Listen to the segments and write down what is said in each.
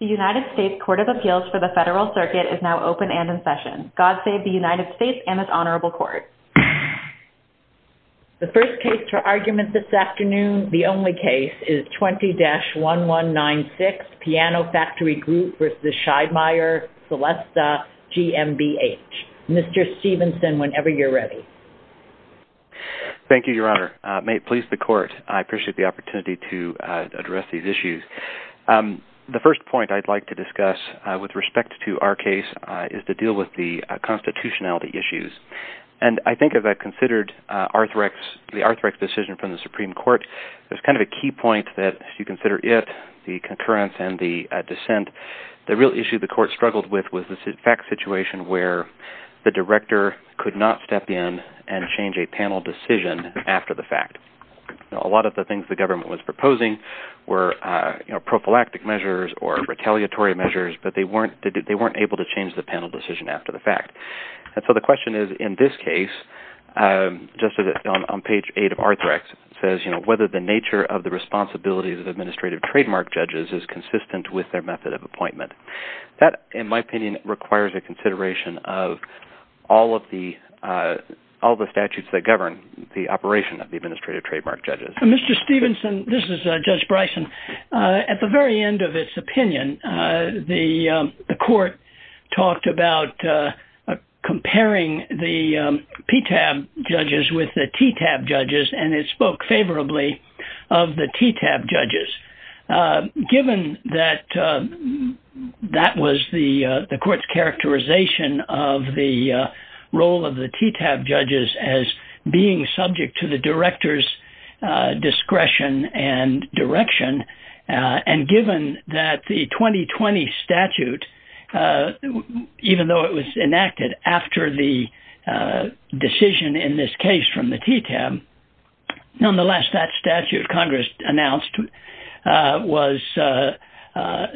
The United States Court of Appeals for the Federal Circuit is now open and in session. God save the United States and this Honorable Court. The first case for argument this afternoon, the only case, is 20-1196, Piano Factory Group v. Schiedmayer Celesta GmbH. Mr. Stevenson, whenever you're ready. Thank you, Your Honor. May it please the Court, I appreciate the opportunity to address these issues. The first point I'd like to discuss with respect to our case is to deal with the constitutionality issues. And I think as I considered the Arthrex decision from the Supreme Court, there's kind of a key point that if you consider it, the concurrence and the dissent, the real issue the court struggled with was the fact situation where the director could not step in and change a panel decision after the fact. A lot of the things the government was proposing were prophylactic measures or retaliatory measures, but they weren't able to change the panel decision after the fact. And so the question is in this case, just on page 8 of Arthrex, it says whether the nature of the responsibilities of administrative trademark judges is consistent with their method of appointment. That, in my opinion, requires a consideration of all of the statutes that govern the operation of the administrative trademark judges. Mr. Stephenson, this is Judge Bryson. At the very end of its opinion, the court talked about comparing the PTAB judges with the TTAB judges, and it spoke favorably of the TTAB judges. Given that that was the court's characterization of the role of the TTAB judges as being subject to the director's discretion and direction, and given that the 2020 statute, even though it was enacted after the decision in this case from the TTAB, Nonetheless, that statute Congress announced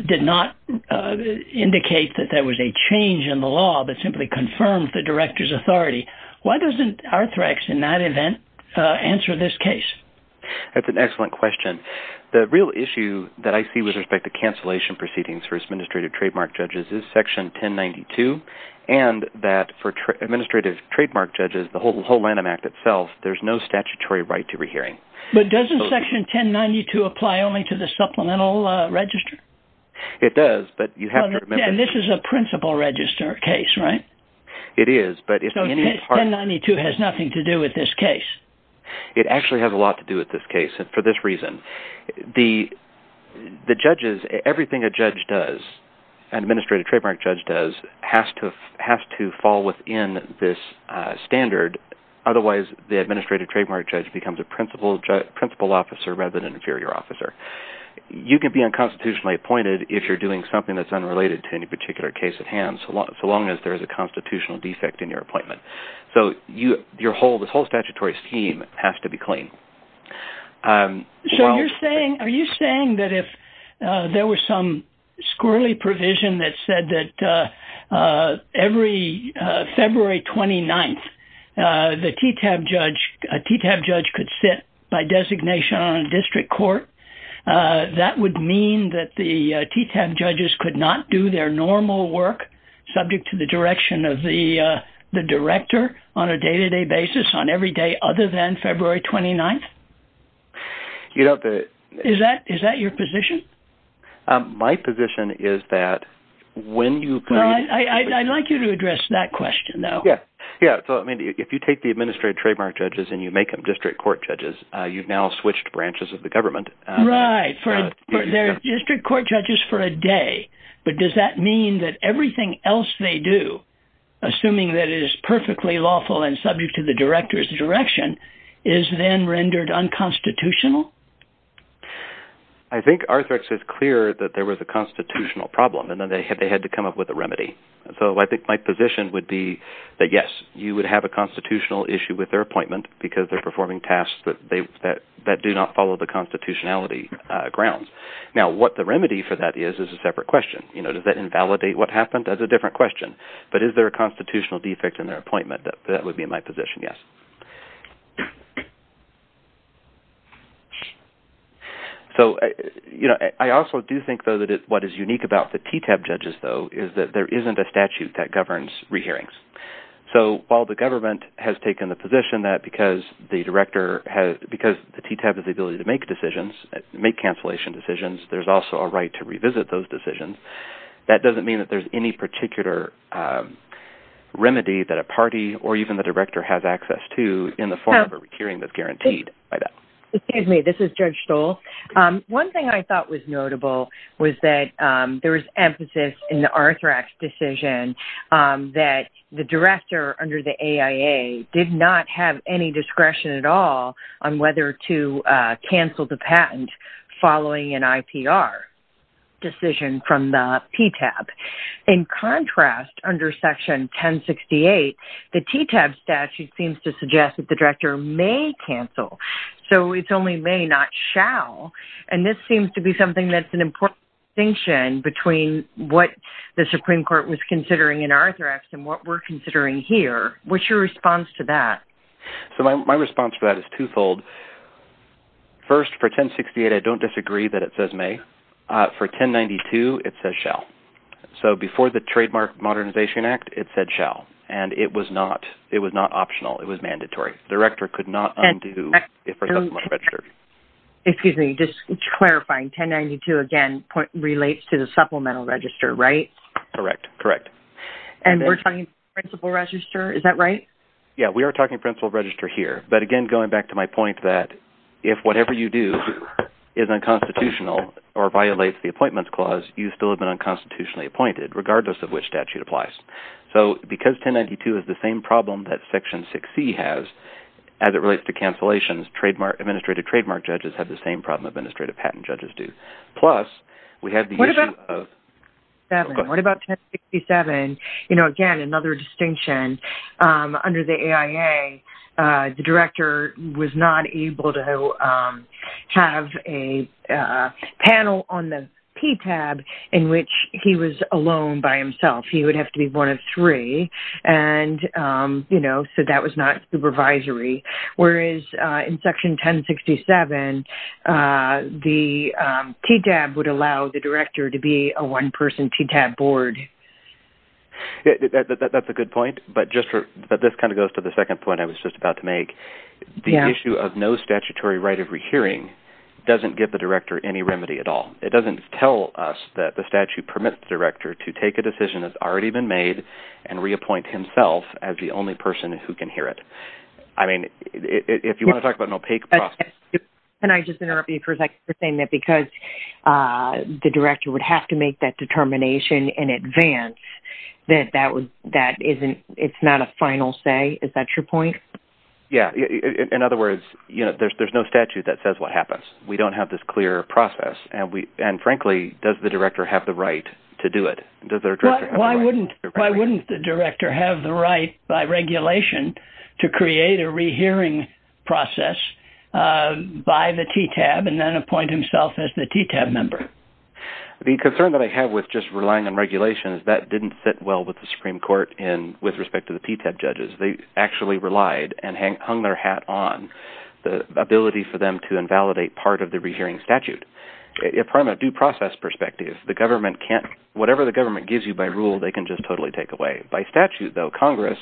did not indicate that there was a change in the law that simply confirmed the director's authority. Why doesn't Arthrex in that event answer this case? That's an excellent question. The real issue that I see with respect to cancellation proceedings for administrative trademark judges is Section 1092, and that for administrative trademark judges, the whole Lanham Act itself, there's no statutory right to rehearing. But doesn't Section 1092 apply only to the supplemental register? It does, but you have to remember… And this is a principal register case, right? It is, but if any part… So Section 1092 has nothing to do with this case? It actually has a lot to do with this case for this reason. The judges, everything a judge does, an administrative trademark judge does, has to fall within this standard. Otherwise, the administrative trademark judge becomes a principal officer rather than an inferior officer. You can be unconstitutionally appointed if you're doing something that's unrelated to any particular case at hand, so long as there's a constitutional defect in your appointment. So this whole statutory scheme has to be clean. So are you saying that if there was some squirrelly provision that said that every February 29th, a TTAB judge could sit by designation on a district court, that would mean that the TTAB judges could not do their normal work subject to the direction of the director on a day-to-day basis on every day other than February 29th? Is that your position? My position is that when you… I'd like you to address that question, though. Yeah, so if you take the administrative trademark judges and you make them district court judges, you've now switched branches of the government. Right. They're district court judges for a day, but does that mean that everything else they do, assuming that it is perfectly lawful and subject to the director's direction, is then rendered unconstitutional? I think Arthrex is clear that there was a constitutional problem, and then they had to come up with a remedy. So I think my position would be that, yes, you would have a constitutional issue with their appointment because they're performing tasks that do not follow the constitutionality grounds. Now, what the remedy for that is is a separate question. Does that invalidate what happened? That's a different question. But is there a constitutional defect in their appointment? That would be my position, yes. So I also do think, though, that what is unique about the TTAB judges, though, is that there isn't a statute that governs re-hearings. So while the government has taken the position that because the TTAB has the ability to make decisions, make cancellation decisions, there's also a right to revisit those decisions, that doesn't mean that there's any particular remedy that a party or even the director has access to in the form of a re-hearing that's guaranteed by that. Excuse me. This is Judge Stoll. One thing I thought was notable was that there was emphasis in the Arthrax decision that the director under the AIA did not have any discretion at all on whether to cancel the patent following an IPR decision from the TTAB. In contrast, under Section 1068, the TTAB statute seems to suggest that the director may cancel, so it's only may, not shall. And this seems to be something that's an important distinction between what the Supreme Court was considering in Arthrax and what we're considering here. What's your response to that? So my response to that is twofold. First, for 1068, I don't disagree that it says may. For 1092, it says shall. So before the Trademark Modernization Act, it said shall, and it was not optional. It was mandatory. The director could not undo it for a supplemental register. Excuse me. Just clarifying. 1092, again, relates to the supplemental register, right? Correct. Correct. And we're talking principal register, is that right? Yeah, we are talking principal register here. But again, going back to my point that if whatever you do is unconstitutional or violates the Appointments Clause, you still have been unconstitutionally appointed, regardless of which statute applies. So because 1092 is the same problem that Section 6C has as it relates to cancellations, administrative trademark judges have the same problem administrative patent judges do. What about 1067? You know, again, another distinction. Under the AIA, the director was not able to have a panel on the PTAB in which he was alone by himself. He would have to be one of three, and, you know, so that was not supervisory. Whereas in Section 1067, the PTAB would allow the director to be a one-person PTAB board. That's a good point, but this kind of goes to the second point I was just about to make. The issue of no statutory right of rehearing doesn't give the director any remedy at all. It doesn't tell us that the statute permits the director to take a decision that's already been made and reappoint himself as the only person who can hear it. I mean, if you want to talk about an opaque process... Can I just interrupt you for a second for saying that because the director would have to make that determination in advance, that it's not a final say? Is that your point? Yeah. In other words, you know, there's no statute that says what happens. We don't have this clear process, and frankly, does the director have the right to do it? Why wouldn't the director have the right by regulation to create a rehearing process by the PTAB and then appoint himself as the PTAB member? The concern that I have with just relying on regulation is that didn't sit well with the Supreme Court with respect to the PTAB judges. They actually relied and hung their hat on the ability for them to invalidate part of the rehearing statute. From a due process perspective, whatever the government gives you by rule, they can just totally take away. By statute, though, Congress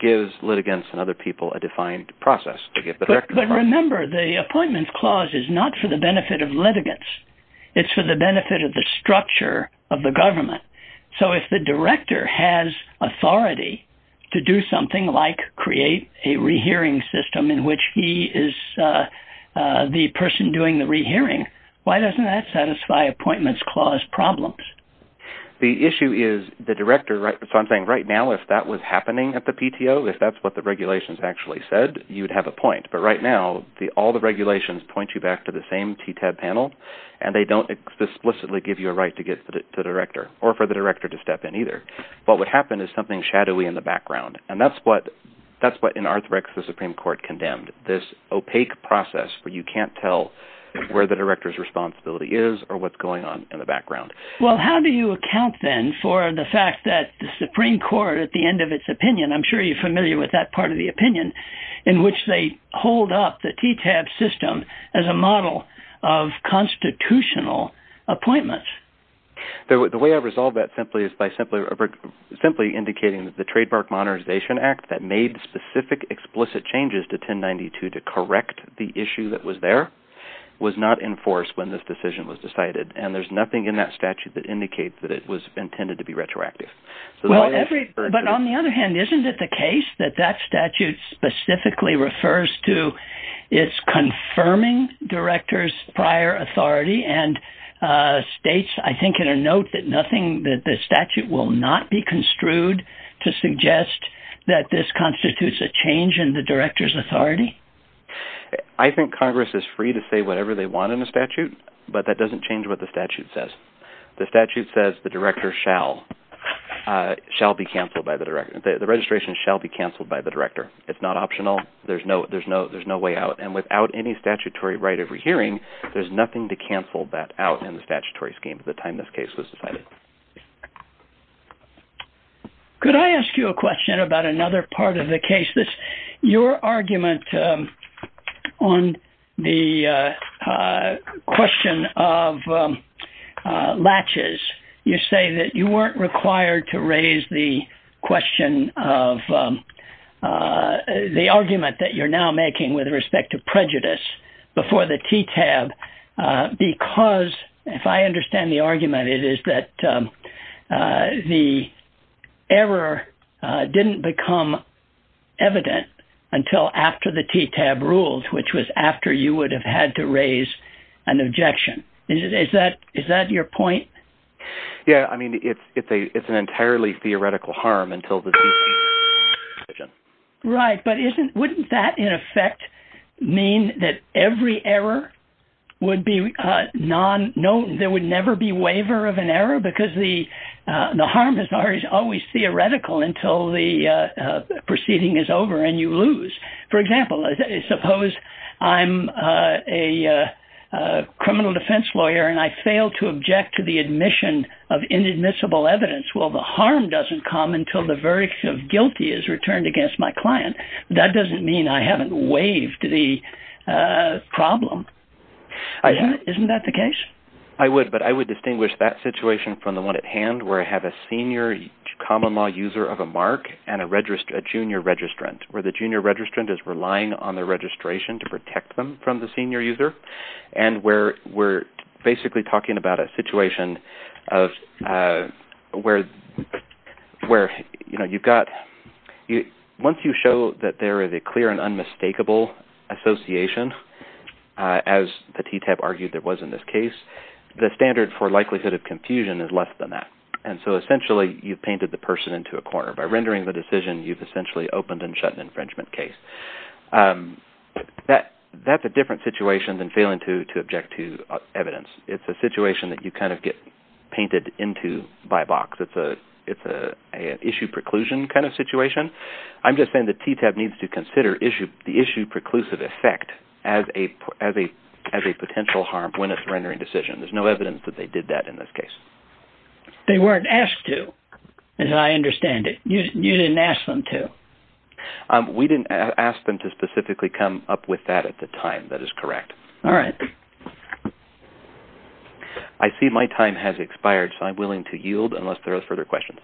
gives litigants and other people a defined process. But remember, the appointments clause is not for the benefit of litigants. It's for the benefit of the structure of the government. So if the director has authority to do something like create a rehearing system in which he is the person doing the rehearing, why doesn't that satisfy appointments clause problems? The issue is the director – so I'm saying right now if that was happening at the PTO, if that's what the regulations actually said, you'd have a point. But right now, all the regulations point you back to the same PTAB panel, and they don't explicitly give you a right to get the director. Or for the director to step in either. What would happen is something shadowy in the background, and that's what in Arthrex the Supreme Court condemned. This opaque process where you can't tell where the director's responsibility is or what's going on in the background. Well, how do you account then for the fact that the Supreme Court at the end of its opinion – I'm sure you're familiar with that part of the opinion – in which they hold up the PTAB system as a model of constitutional appointments? The way I resolve that simply is by simply indicating that the Trademark Modernization Act that made specific, explicit changes to 1092 to correct the issue that was there was not enforced when this decision was decided. And there's nothing in that statute that indicates that it was intended to be retroactive. But on the other hand, isn't it the case that that statute specifically refers to its confirming director's prior authority and states, I think, in a note that the statute will not be construed to suggest that this constitutes a change in the director's authority? I think Congress is free to say whatever they want in the statute, but that doesn't change what the statute says. The statute says the director shall be cancelled by the director. The registration shall be cancelled by the director. It's not optional. There's no way out. And without any statutory right of rehearing, there's nothing to cancel that out in the statutory scheme at the time this case was decided. Could I ask you a question about another part of the case? Your argument on the question of latches, you say that you weren't required to raise the question of the argument that you're now making with respect to prejudice before the TTAB. Because if I understand the argument, it is that the error didn't become evident until after the TTAB rules, which was after you would have had to raise an objection. Is that your point? Yeah, I mean, it's an entirely theoretical harm until the TTAB decision. Right, but wouldn't that in effect mean that every error would be non, no, there would never be waiver of an error because the harm is always theoretical until the proceeding is over and you lose. For example, suppose I'm a criminal defense lawyer and I fail to object to the admission of inadmissible evidence. Well, the harm doesn't come until the verdict of guilty is returned against my client. That doesn't mean I haven't waived the problem. Isn't that the case? I would, but I would distinguish that situation from the one at hand where I have a senior common law user of a mark and a junior registrant, where the junior registrant is relying on the registration to protect them from the senior user. And where we're basically talking about a situation where you've got – once you show that there is a clear and unmistakable association, as the TTAB argued there was in this case, the standard for likelihood of confusion is less than that. And so essentially, you've painted the person into a corner. By rendering the decision, you've essentially opened and shut an infringement case. That's a different situation than failing to object to evidence. It's a situation that you kind of get painted into by box. It's an issue preclusion kind of situation. I'm just saying the TTAB needs to consider the issue preclusive effect as a potential harm when it's a rendering decision. There's no evidence that they did that in this case. They weren't asked to, as I understand it. You didn't ask them to. We didn't ask them to specifically come up with that at the time. That is correct. All right. I see my time has expired, so I'm willing to yield unless there are further questions.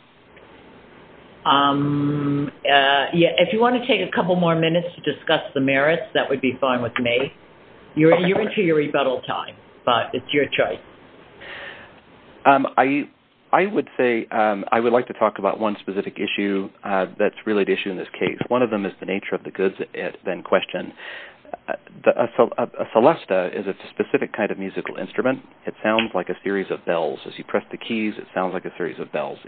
If you want to take a couple more minutes to discuss the merits, that would be fine with me. You're into your rebuttal time, but it's your choice. I would like to talk about one specific issue that's really the issue in this case. One of them is the nature of the goods at question. A celesta is a specific kind of musical instrument. It sounds like a series of bells. As you press the keys, it sounds like a series of bells.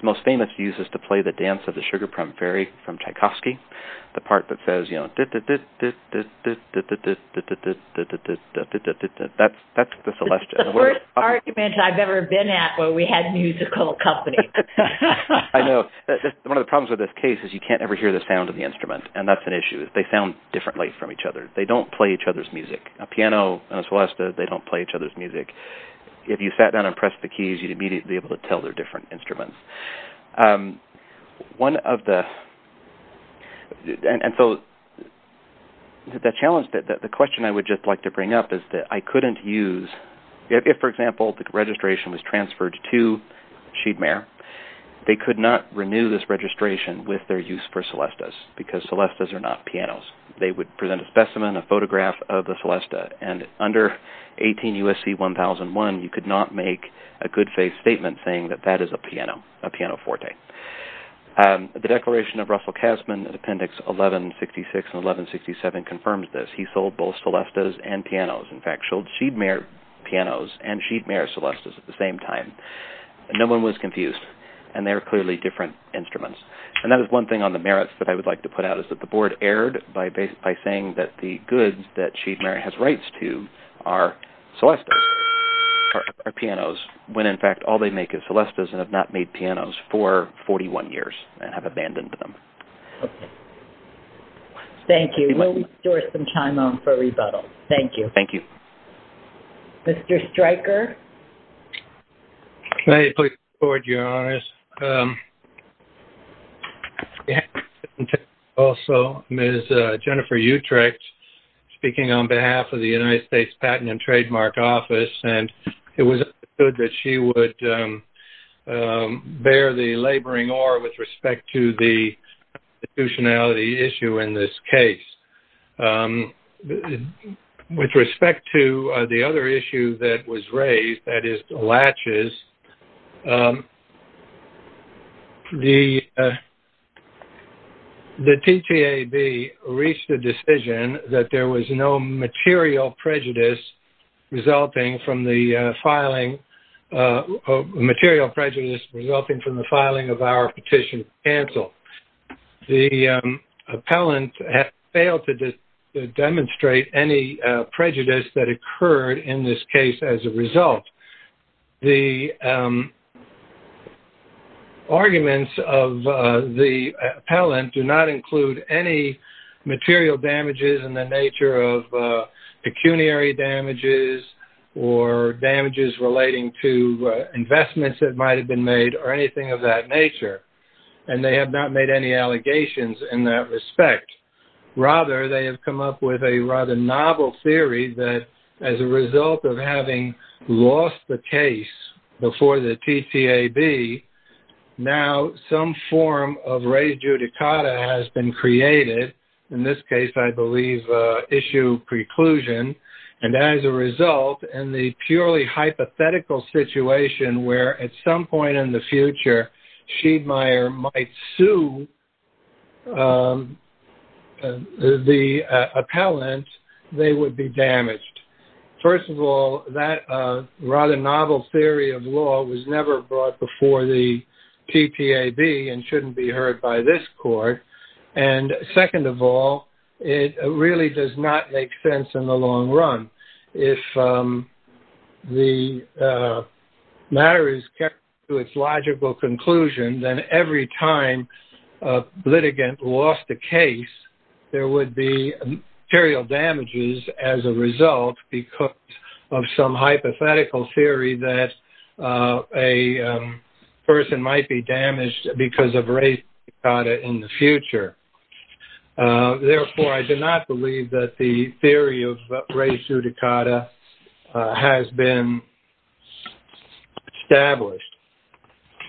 The most famous use is to play the Dance of the Sugar Plum Fairy from Tchaikovsky, the part that says, That's the worst argument I've ever been at where we had musical company. I know. One of the problems with this case is you can't ever hear the sound of the instrument, and that's an issue. They sound differently from each other. They don't play each other's music. A piano and a celesta, they don't play each other's music. If you sat down and pressed the keys, you'd immediately be able to tell they're different instruments. The question I would just like to bring up is that I couldn't use, if, for example, the registration was transferred to Sheedmare, they could not renew this registration with their use for celestas because celestas are not pianos. They would present a specimen, a photograph of the celesta, and under 18 U.S.C. 1001, you could not make a good faith statement saying that that is a piano, a pianoforte. The Declaration of Russell Casman in Appendix 1166 and 1167 confirms this. He sold both celestas and pianos. In fact, he sold Sheedmare pianos and Sheedmare celestas at the same time. No one was confused, and they were clearly different instruments. And that is one thing on the merits that I would like to put out is that the Board erred by saying that the goods that Sheedmare has rights to are celestas, are pianos, when, in fact, all they make is celestas and have not made pianos for 41 years and have abandoned them. Thank you. We'll restore some time for rebuttals. Thank you. Thank you. Mr. Stryker? May I please report, Your Honors? Also, Ms. Jennifer Utrecht, speaking on behalf of the United States Patent and Trademark Office, and it was understood that she would bear the laboring oar with respect to the institutionality issue in this case. With respect to the other issue that was raised, that is the latches, the TTAB reached a decision that there was no material prejudice resulting from the filing of our petition to cancel. The appellant has failed to demonstrate any prejudice that occurred in this case as a result. The arguments of the appellant do not include any material damages in the nature of pecuniary damages or damages relating to investments that might have been made or anything of that nature. And they have not made any allegations in that respect. Rather, they have come up with a rather novel theory that as a result of having lost the case before the TTAB, now some form of re judicata has been created. In this case, I believe, issue preclusion. And as a result, in the purely hypothetical situation where at some point in the future, Shiedmeier might sue the appellant, they would be damaged. First of all, that rather novel theory of law was never brought before the TTAB and shouldn't be heard by this court. And second of all, it really does not make sense in the long run. If the matter is kept to its logical conclusion, then every time a litigant lost a case, there would be material damages as a result because of some hypothetical theory that a person might be damaged because of re judicata in the future. Therefore, I do not believe that the theory of re judicata has been established.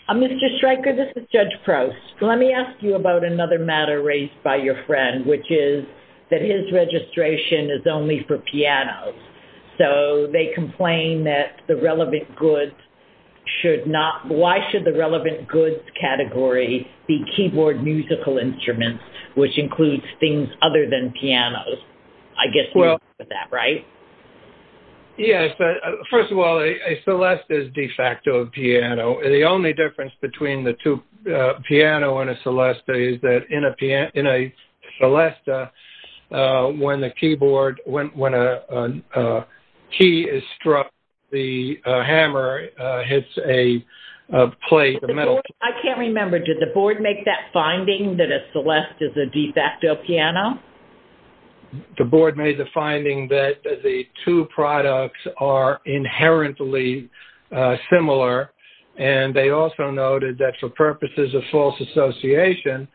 Mr. Stryker, this is Judge Proust. Let me ask you about another matter raised by your friend, which is that his registration is only for pianos. So they complain that the relevant goods should not, why should the relevant goods category be keyboard musical instruments, which includes things other than pianos? I guess you agree with that, right? Yes. First of all, a celesta is de facto a piano. The only difference between the two, a piano and a celesta, is that in a celesta, when a key is struck, the hammer hits a plate of metal. I can't remember, did the board make that finding that a celesta is a de facto piano? The board made the finding that the two products are inherently similar. And they also noted that for purposes of false association,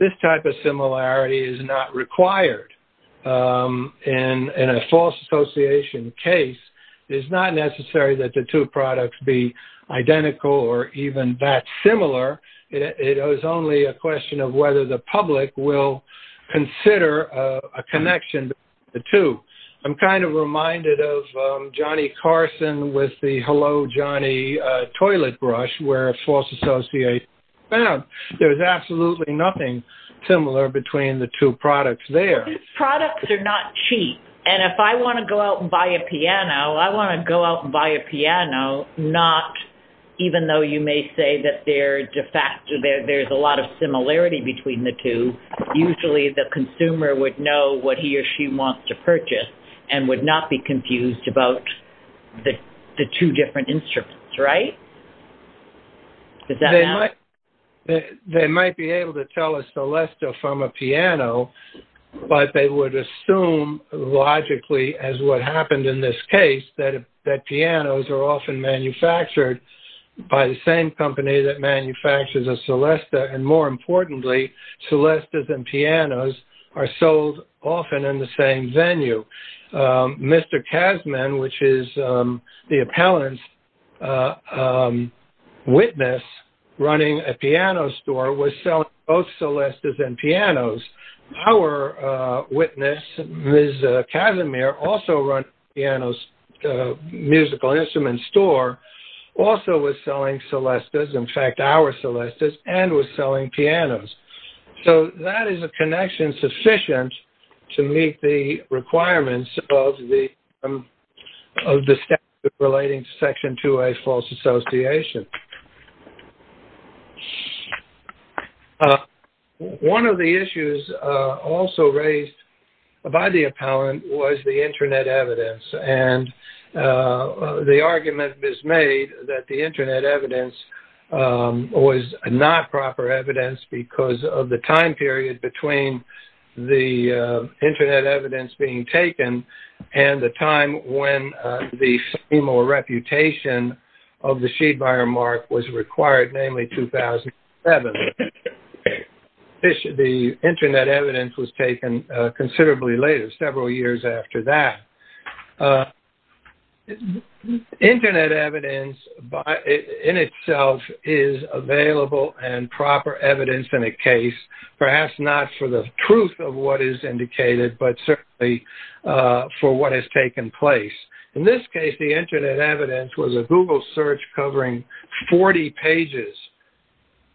this type of similarity is not required. In a false association case, it is not necessary that the two products be identical or even that similar. It is only a question of whether the public will consider a connection between the two. I'm kind of reminded of Johnny Carson with the Hello Johnny toilet brush, where a false association was found. There is absolutely nothing similar between the two products there. Products are not cheap. And if I want to go out and buy a piano, I want to go out and buy a piano, not even though you may say that there is a lot of similarity between the two. Usually the consumer would know what he or she wants to purchase and would not be confused about the two different instruments, right? Does that make sense? They might be able to tell a celesta from a piano, but they would assume logically, as what happened in this case, that pianos are often manufactured by the same company that manufactures a celesta. And more importantly, celestas and pianos are sold often in the same venue. Mr. Kazman, which is the appellant's witness running a piano store, was selling both celestas and pianos. Our witness, Ms. Kazimir, also runs a piano musical instrument store, also was selling celestas, in fact our celestas, and was selling pianos. So that is a connection sufficient to meet the requirements of the statute relating to Section 2A false association. One of the issues also raised by the appellant was the Internet evidence. And the argument is made that the Internet evidence was not proper evidence because of the time period between the Internet evidence being taken and the time when the female reputation of the Sheed buyer mark was required, namely 2007. The Internet evidence was taken considerably later, several years after that. Internet evidence in itself is available and proper evidence in a case, perhaps not for the truth of what is indicated, but certainly for what has taken place. In this case, the Internet evidence was a Google search covering 40 pages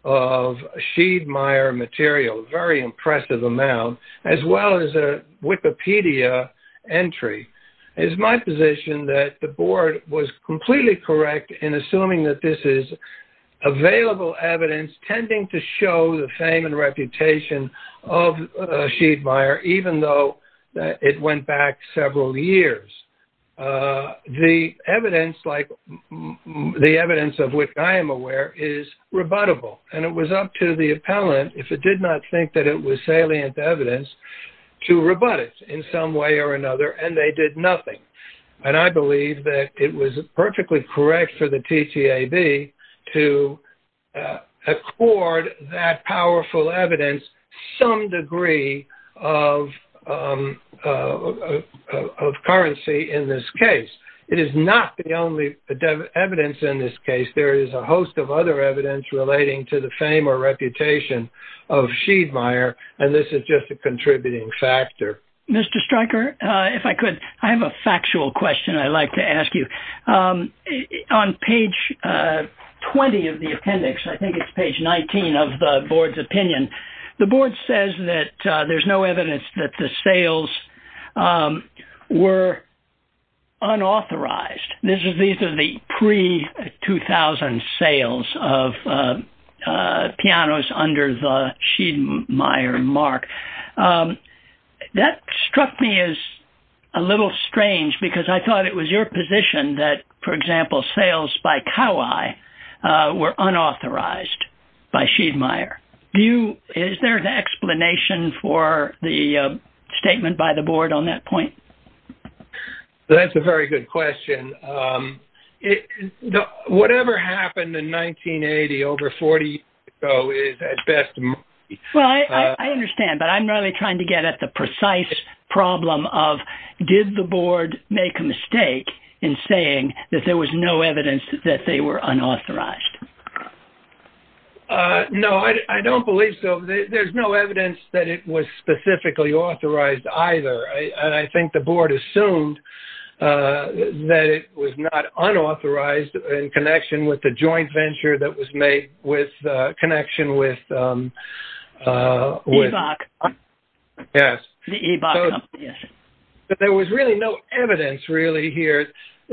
of Sheed buyer material, a very impressive amount, as well as a Wikipedia entry. It is my position that the board was completely correct in assuming that this is available evidence, tending to show the fame and reputation of a Sheed buyer, even though it went back several years. The evidence, like the evidence of which I am aware, is rebuttable. And it was up to the appellant, if it did not think that it was salient evidence, to rebut it in some way or another, and they did nothing. And I believe that it was perfectly correct for the TTAB to accord that powerful evidence some degree of currency in this case. It is not the only evidence in this case. There is a host of other evidence relating to the fame or reputation of Sheed buyer, and this is just a contributing factor. Mr. Stryker, if I could, I have a factual question I'd like to ask you. On page 20 of the appendix, I think it's page 19 of the board's opinion, the board says that there's no evidence that the sales were unauthorized. These are the pre-2000 sales of pianos under the Sheed buyer mark. That struck me as a little strange, because I thought it was your position that, for example, sales by Kawai were unauthorized by Sheed buyer. Is there an explanation for the statement by the board on that point? That's a very good question. Whatever happened in 1980 over 40 years ago is at best... Well, I understand, but I'm really trying to get at the precise problem of did the board make a mistake in saying that there was no evidence that they were unauthorized? No, I don't believe so. There's no evidence that it was specifically authorized either. And I think the board assumed that it was not unauthorized in connection with the joint venture that was made with connection with... EBAC. Yes. But there was really no evidence really here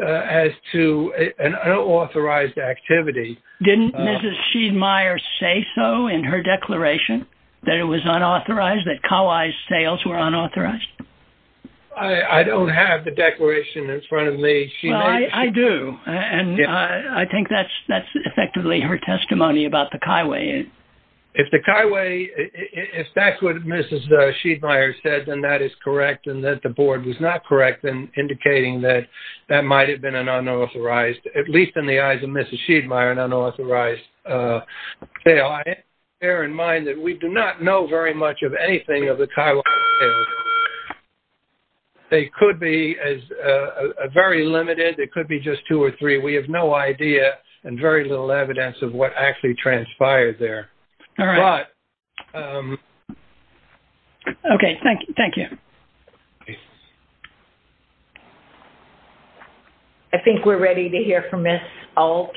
as to an unauthorized activity. Didn't Mrs. Sheed buyer say so in her declaration that it was unauthorized, that Kawai's sales were unauthorized? I don't have the declaration in front of me. I do. And I think that's effectively her testimony about the Kawai. If the Kawai... If that's what Mrs. Sheed buyer said, then that is correct. And that the board was not correct in indicating that that might have been an unauthorized, at least in the eyes of Mrs. Sheed buyer, an unauthorized sale. And I think we have to bear in mind that we do not know very much of anything of the Kawai sales. They could be very limited. It could be just two or three. We have no idea and very little evidence of what actually transpired there. All right. Okay. Thank you. I think we're ready to hear from Ms. Altrek.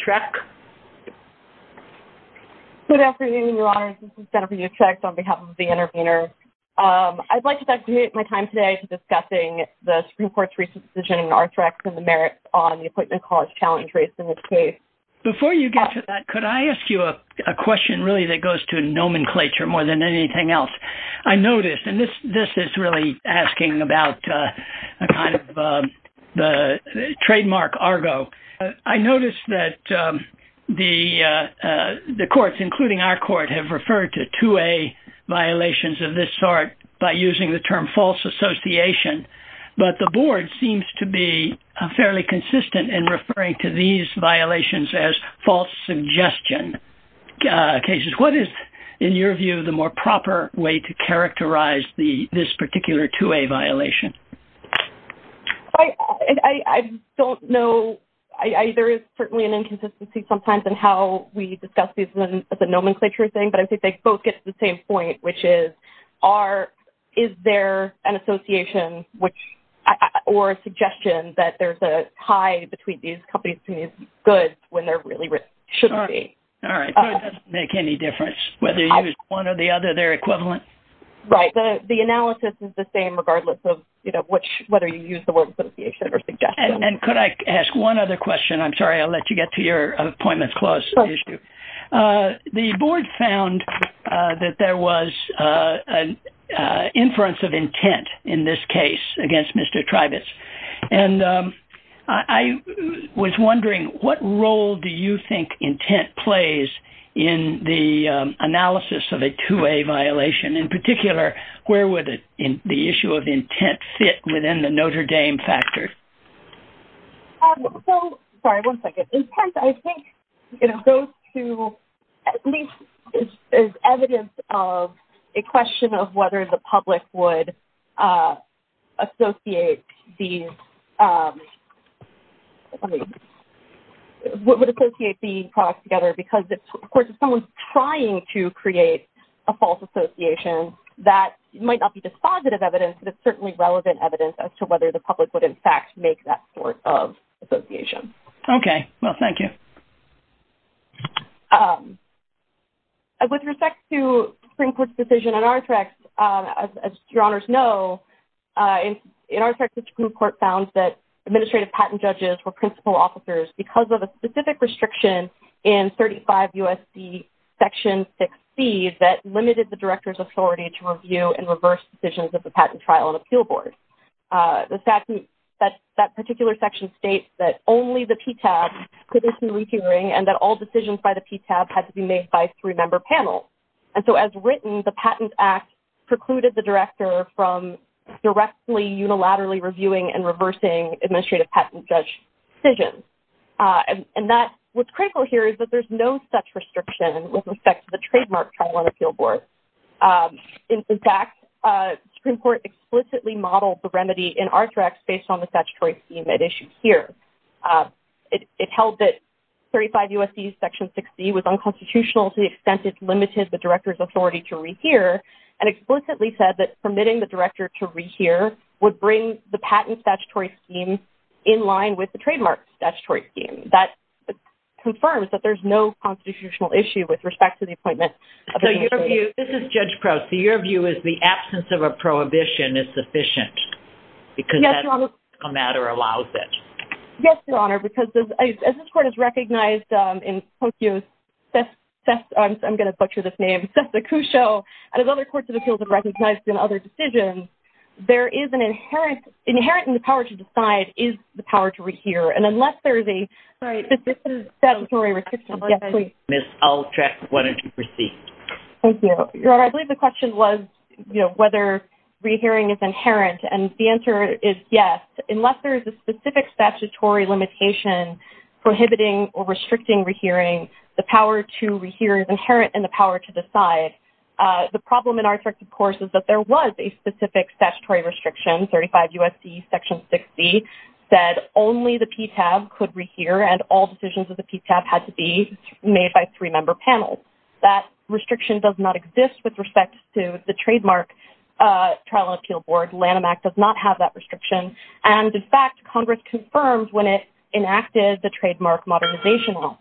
Good afternoon, Your Honor. This is Jennifer Utrecht on behalf of the intervener. I'd like to dedicate my time today to discussing the Supreme Court's recent decision in Altrek on the merit on the appointment college challenge race in this case. Before you get to that, could I ask you a question really that goes to nomenclature more than anything else? I noticed, and this is really asking about a kind of the trademark Argo. I noticed that the courts, including our court, have referred to 2A violations of this sort by using the term false association. But the board seems to be fairly consistent in referring to these violations as false suggestion cases. What is, in your view, the more proper way to characterize this particular 2A violation? I don't know. There is certainly an inconsistency sometimes in how we discuss these as a nomenclature thing. But I think they both get to the same point, which is, is there an association or suggestion that there's a tie between these companies and these goods when there really shouldn't be? All right. It doesn't make any difference whether you use one or the other. They're equivalent. Right. The analysis is the same regardless of whether you use the word association or suggestion. And could I ask one other question? I'm sorry, I'll let you get to your appointments clause issue. The board found that there was an inference of intent in this case against Mr. Tribus. And I was wondering, what role do you think intent plays in the analysis of a 2A violation? In particular, where would the issue of intent fit within the Notre Dame factor? So, sorry, one second. Intent, I think, you know, goes to, at least is evidence of a question of whether the public would associate these, I mean, would associate these products together. Because, of course, if someone's trying to create a false association, that might not be dispositive evidence, but it's certainly relevant evidence as to whether the public would, in fact, make that sort of association. Okay. Well, thank you. With respect to Supreme Court's decision in Arthrex, as Your Honors know, in Arthrex, the Supreme Court found that administrative patent judges were principal officers because of a specific restriction in 35 U.S.C. Section 6C that limited the director's authority to review and reverse decisions of the patent trial and appeal board. The fact that that particular section states that only the PTAB could issue a reviewing and that all decisions by the PTAB had to be made by three-member panels. And so, as written, the Patent Act precluded the director from directly, unilaterally reviewing and reversing administrative patent judge decisions. And that, what's critical here is that there's no such restriction with respect to the trademark trial and appeal board. In fact, the Supreme Court explicitly modeled the remedy in Arthrex based on the statutory scheme at issue here. It held that 35 U.S.C. Section 6C was unconstitutional to the extent it limited the director's authority to rehear and explicitly said that permitting the director to rehear would bring the patent statutory scheme in line with the trademark statutory scheme. That confirms that there's no constitutional issue with respect to the appointment of a review. This is Judge Proust. So, your view is the absence of a prohibition is sufficient? Yes, Your Honor. Because that's how the matter allows it? Yes, Your Honor. Because as this Court has recognized in POCIO, I'm going to butcher this name, Cessna-Cusho, and as other courts of appeals have recognized in other decisions, there is an inherent, inherent in the power to decide is the power to rehear. And unless there is a statutory restriction, yes, please. Ms. Altrex, why don't you proceed? Thank you. Your Honor, I believe the question was, you know, whether rehearing is inherent. And the answer is yes. Unless there is a specific statutory limitation prohibiting or restricting rehearing, the power to rehear is inherent in the power to decide. The problem in our effect, of course, is that there was a specific statutory restriction, 35 U.S.C. Section 6C, that only the PTAB could rehear and all decisions of the PTAB had to be made by three-member panels. That restriction does not exist with respect to the trademark Trial and Appeal Board. Lanham Act does not have that restriction. And, in fact, Congress confirmed when it enacted the trademark modernization law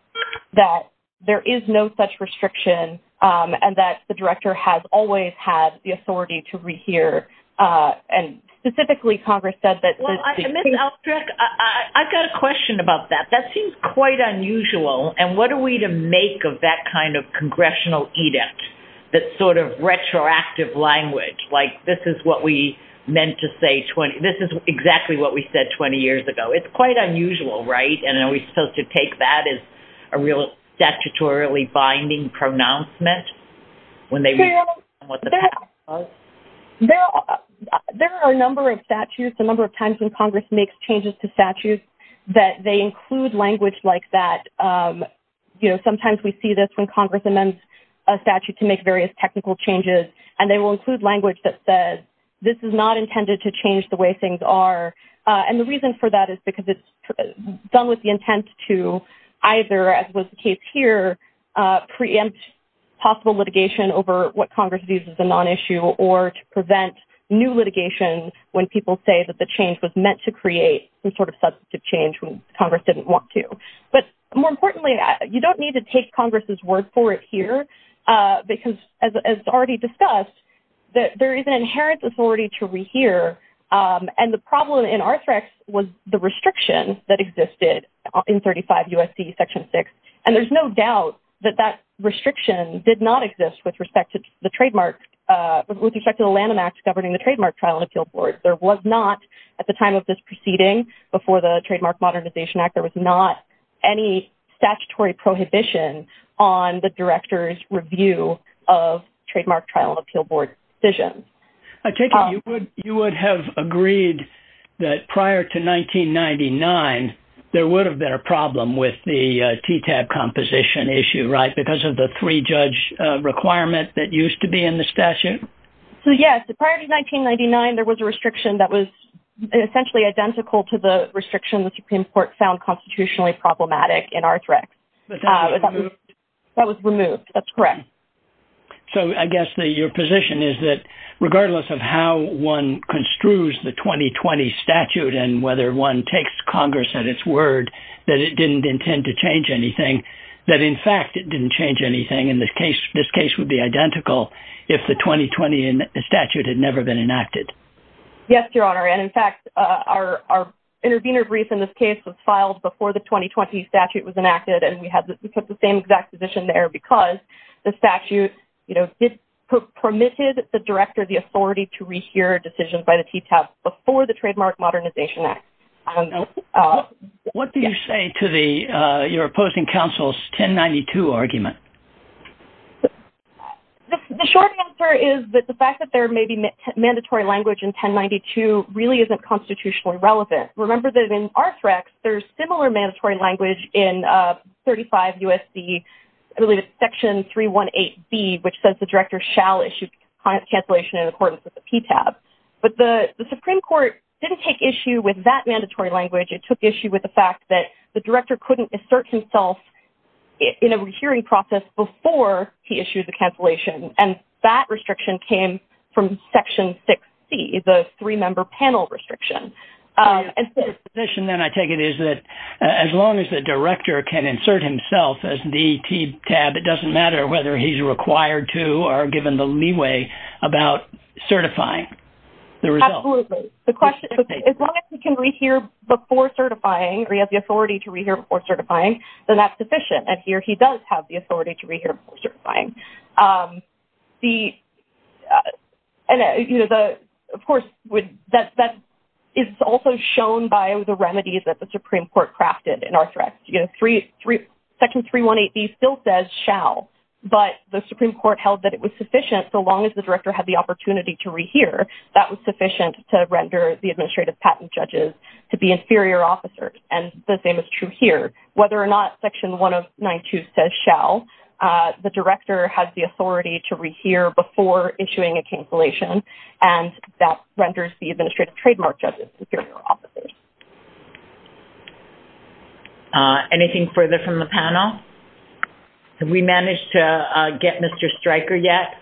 that there is no such restriction and that the director has always had the authority to rehear. And specifically, Congress said that this is… Well, Ms. Altrex, I've got a question about that. That seems quite unusual. And what are we to make of that kind of congressional edict, that sort of retroactive language? Like, this is what we meant to say 20…this is exactly what we said 20 years ago. It's quite unusual, right? And are we supposed to take that as a real statutorily binding pronouncement when they… Well, there are a number of statutes, a number of times when Congress makes changes to statutes that they include language like that. You know, sometimes we see this when Congress amends a statute to make various technical changes, and they will include language that says this is not intended to change the way things are. And the reason for that is because it's done with the intent to either, as was the case here, preempt possible litigation over what Congress views as a non-issue or to prevent new litigation when people say that the change was meant to create some sort of substantive change when Congress didn't want to. But more importantly, you don't need to take Congress's word for it here because, as already discussed, there is an inherent authority to rehear. And the problem in Arthrex was the restriction that existed in 35 U.S.C. Section 6. And there's no doubt that that restriction did not exist with respect to the landmark…with respect to the Lanham Act governing the trademark trial and appeal board. There was not, at the time of this proceeding, before the Trademark Modernization Act, there was not any statutory prohibition on the director's review of trademark trial and appeal board decisions. I take it you would have agreed that prior to 1999, there would have been a problem with the TTAB composition issue, right, because of the three-judge requirement that used to be in the statute? So, yes, prior to 1999, there was a restriction that was essentially identical to the restriction the Supreme Court found constitutionally problematic in Arthrex. But that was removed? That was removed. That's correct. So I guess your position is that regardless of how one construes the 2020 statute and whether one takes Congress at its word that it didn't intend to change anything, that in fact it didn't change anything, and this case would be identical if the 2020 statute had never been enacted. Yes, Your Honor, and in fact our intervener brief in this case was filed before the 2020 statute was enacted, and we put the same exact position there because the statute permitted the director the authority to rehear decisions by the TTAB before the Trademark Modernization Act. What do you say to your opposing counsel's 1092 argument? The short answer is that the fact that there may be mandatory language in 1092 really isn't constitutionally relevant. Remember that in Arthrex, there's similar mandatory language in 35 U.S.C. Section 318B, which says the director shall issue cancellation in accordance with the TTAB. But the Supreme Court didn't take issue with that mandatory language. It took issue with the fact that the director couldn't assert himself in a hearing process before he issued the cancellation, and that restriction came from Section 6C, the three-member panel restriction. The position then, I take it, is that as long as the director can insert himself as the TTAB, it doesn't matter whether he's required to or given the leeway about certifying the result. Absolutely. The question is, as long as he can rehear before certifying or he has the authority to rehear before certifying, then that's sufficient. And here he does have the authority to rehear before certifying. Of course, that is also shown by the remedies that the Supreme Court crafted in Arthrex. Section 318B still says shall, but the Supreme Court held that it was sufficient, so long as the director had the opportunity to rehear, that was sufficient to render the administrative patent judges to be inferior officers. And the same is true here. Whether or not Section 192 says shall, the director has the authority to rehear before issuing a cancellation, and that renders the administrative trademark judges inferior officers. Anything further from the panel? Have we managed to get Mr. Stryker yet?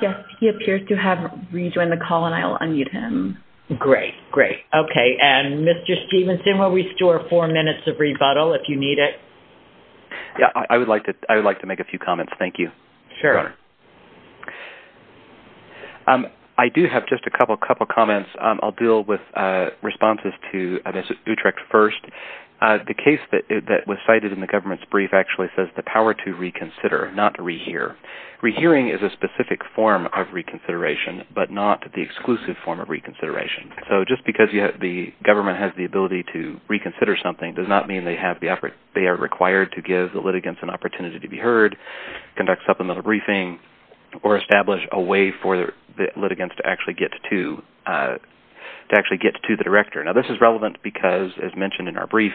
Yes, he appears to have rejoined the call, and I will unmute him. Great, great. Okay, and Mr. Stevenson, we'll restore four minutes of rebuttal if you need it. Yeah, I would like to make a few comments. Thank you. Sure. I do have just a couple of comments. I'll deal with responses to Utrecht first. The case that was cited in the government's brief actually says the power to reconsider, not to rehear. Rehearing is a specific form of reconsideration, but not the exclusive form of reconsideration. So just because the government has the ability to reconsider something does not mean they are required to give the litigants an opportunity to be heard, conduct supplemental briefing, or establish a way for the litigants to actually get to the director. Now, this is relevant because, as mentioned in our brief,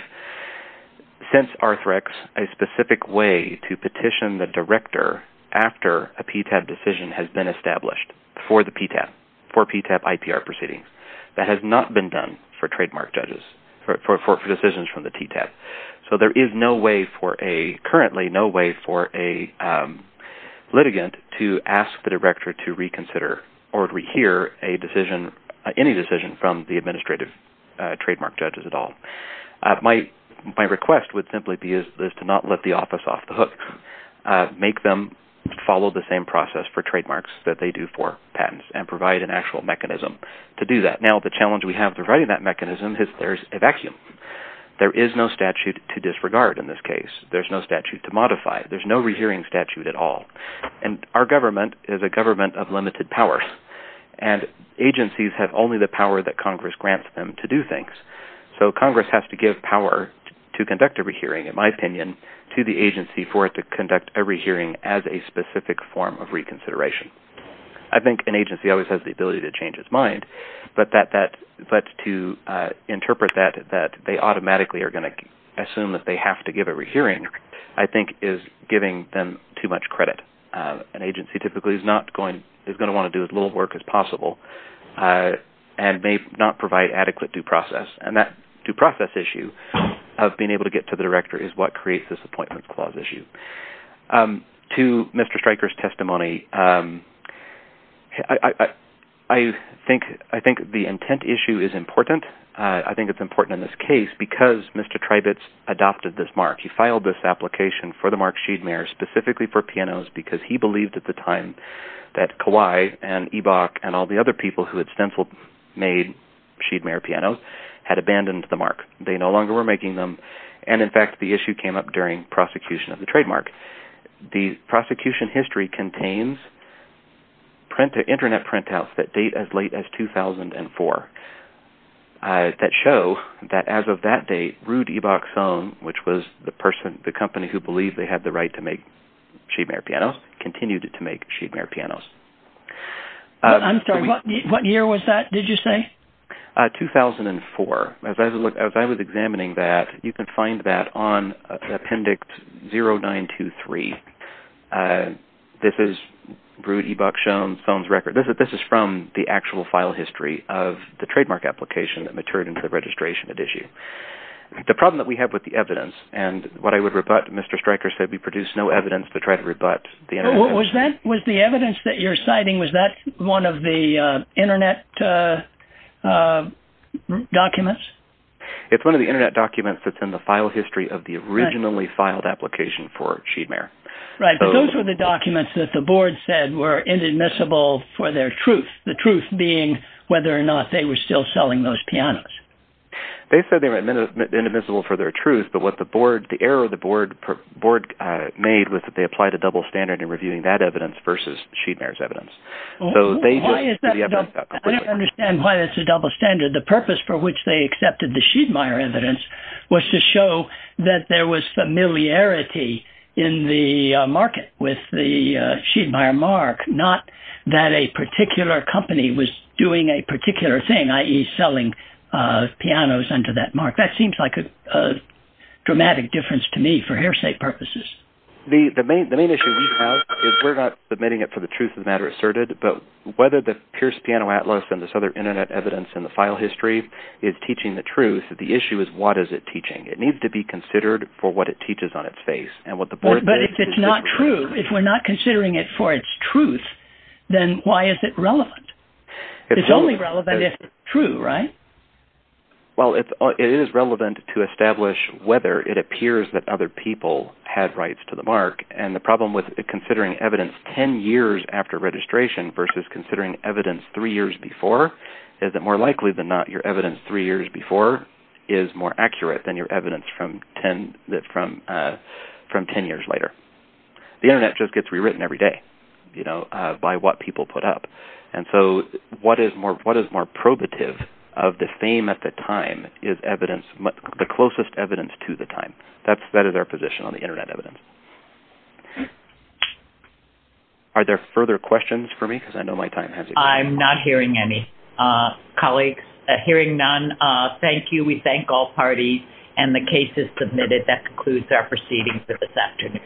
since Arthrex, a specific way to petition the director after a PTAB decision has been established for the PTAB, for PTAB IPR proceedings, that has not been done for trademark judges, for decisions from the TTAB. So there is currently no way for a litigant to ask the director to reconsider or to rehear any decision from the administrative trademark judges at all. My request would simply be to not let the office off the hook. Make them follow the same process for trademarks that they do for patents and provide an actual mechanism to do that. But now the challenge we have providing that mechanism is there's a vacuum. There is no statute to disregard in this case. There's no statute to modify. There's no rehearing statute at all. And our government is a government of limited powers, and agencies have only the power that Congress grants them to do things. So Congress has to give power to conduct a rehearing, in my opinion, to the agency for it to conduct a rehearing as a specific form of reconsideration. I think an agency always has the ability to change its mind, but to interpret that they automatically are going to assume that they have to give a rehearing I think is giving them too much credit. An agency typically is going to want to do as little work as possible and may not provide adequate due process. And that due process issue of being able to get to the director is what creates this Appointments Clause issue. To Mr. Stryker's testimony, I think the intent issue is important. I think it's important in this case because Mr. Tribetz adopted this mark. He filed this application for the mark Sheedmare specifically for pianos because he believed at the time that Kawai and Ebach and all the other people who had stenciled made Sheedmare pianos had abandoned the mark. They no longer were making them, and in fact, the issue came up during prosecution of the trademark. The prosecution history contains internet printouts that date as late as 2004 that show that as of that date, Ruud Ebach's own, which was the company who believed they had the right to make Sheedmare pianos, continued to make Sheedmare pianos. I'm sorry. What year was that, did you say? 2004. As I was examining that, you can find that on Appendix 0923. This is Ruud Ebach's own record. This is from the actual file history of the trademark application that matured into the registration issue. The problem that we have with the evidence, and what I would rebut, Mr. Stryker said we produced no evidence to try to rebut the internet. Was the evidence that you're citing, was that one of the internet documents? It's one of the internet documents that's in the file history of the originally filed application for Sheedmare. Right, but those were the documents that the board said were inadmissible for their truth, the truth being whether or not they were still selling those pianos. They said they were inadmissible for their truth, but what the board, the error the board made was that they applied a double standard in reviewing that evidence versus Sheedmare's evidence. I don't understand why it's a double standard. The purpose for which they accepted the Sheedmare evidence was to show that there was familiarity in the market with the Sheedmare mark, not that a particular company was doing a particular thing, i.e. selling pianos under that mark. That seems like a dramatic difference to me for hearsay purposes. The main issue we have is we're not submitting it for the truth of the matter asserted, but whether the Pierce Piano Atlas and this other internet evidence in the file history is teaching the truth, the issue is what is it teaching? It needs to be considered for what it teaches on its face. But if it's not true, if we're not considering it for its truth, then why is it relevant? It's only relevant if it's true, right? Well, it is relevant to establish whether it appears that other people had rights to the mark. And the problem with considering evidence ten years after registration versus considering evidence three years before is that more likely than not your evidence three years before is more accurate than your evidence from ten years later. The internet just gets rewritten every day by what people put up. And so what is more probative of the fame at the time is the closest evidence to the time. That is our position on the internet evidence. Are there further questions for me? Because I know my time has expired. I'm not hearing any. Colleagues, hearing none, thank you. We thank all parties. And the case is submitted. That concludes our proceedings for this afternoon.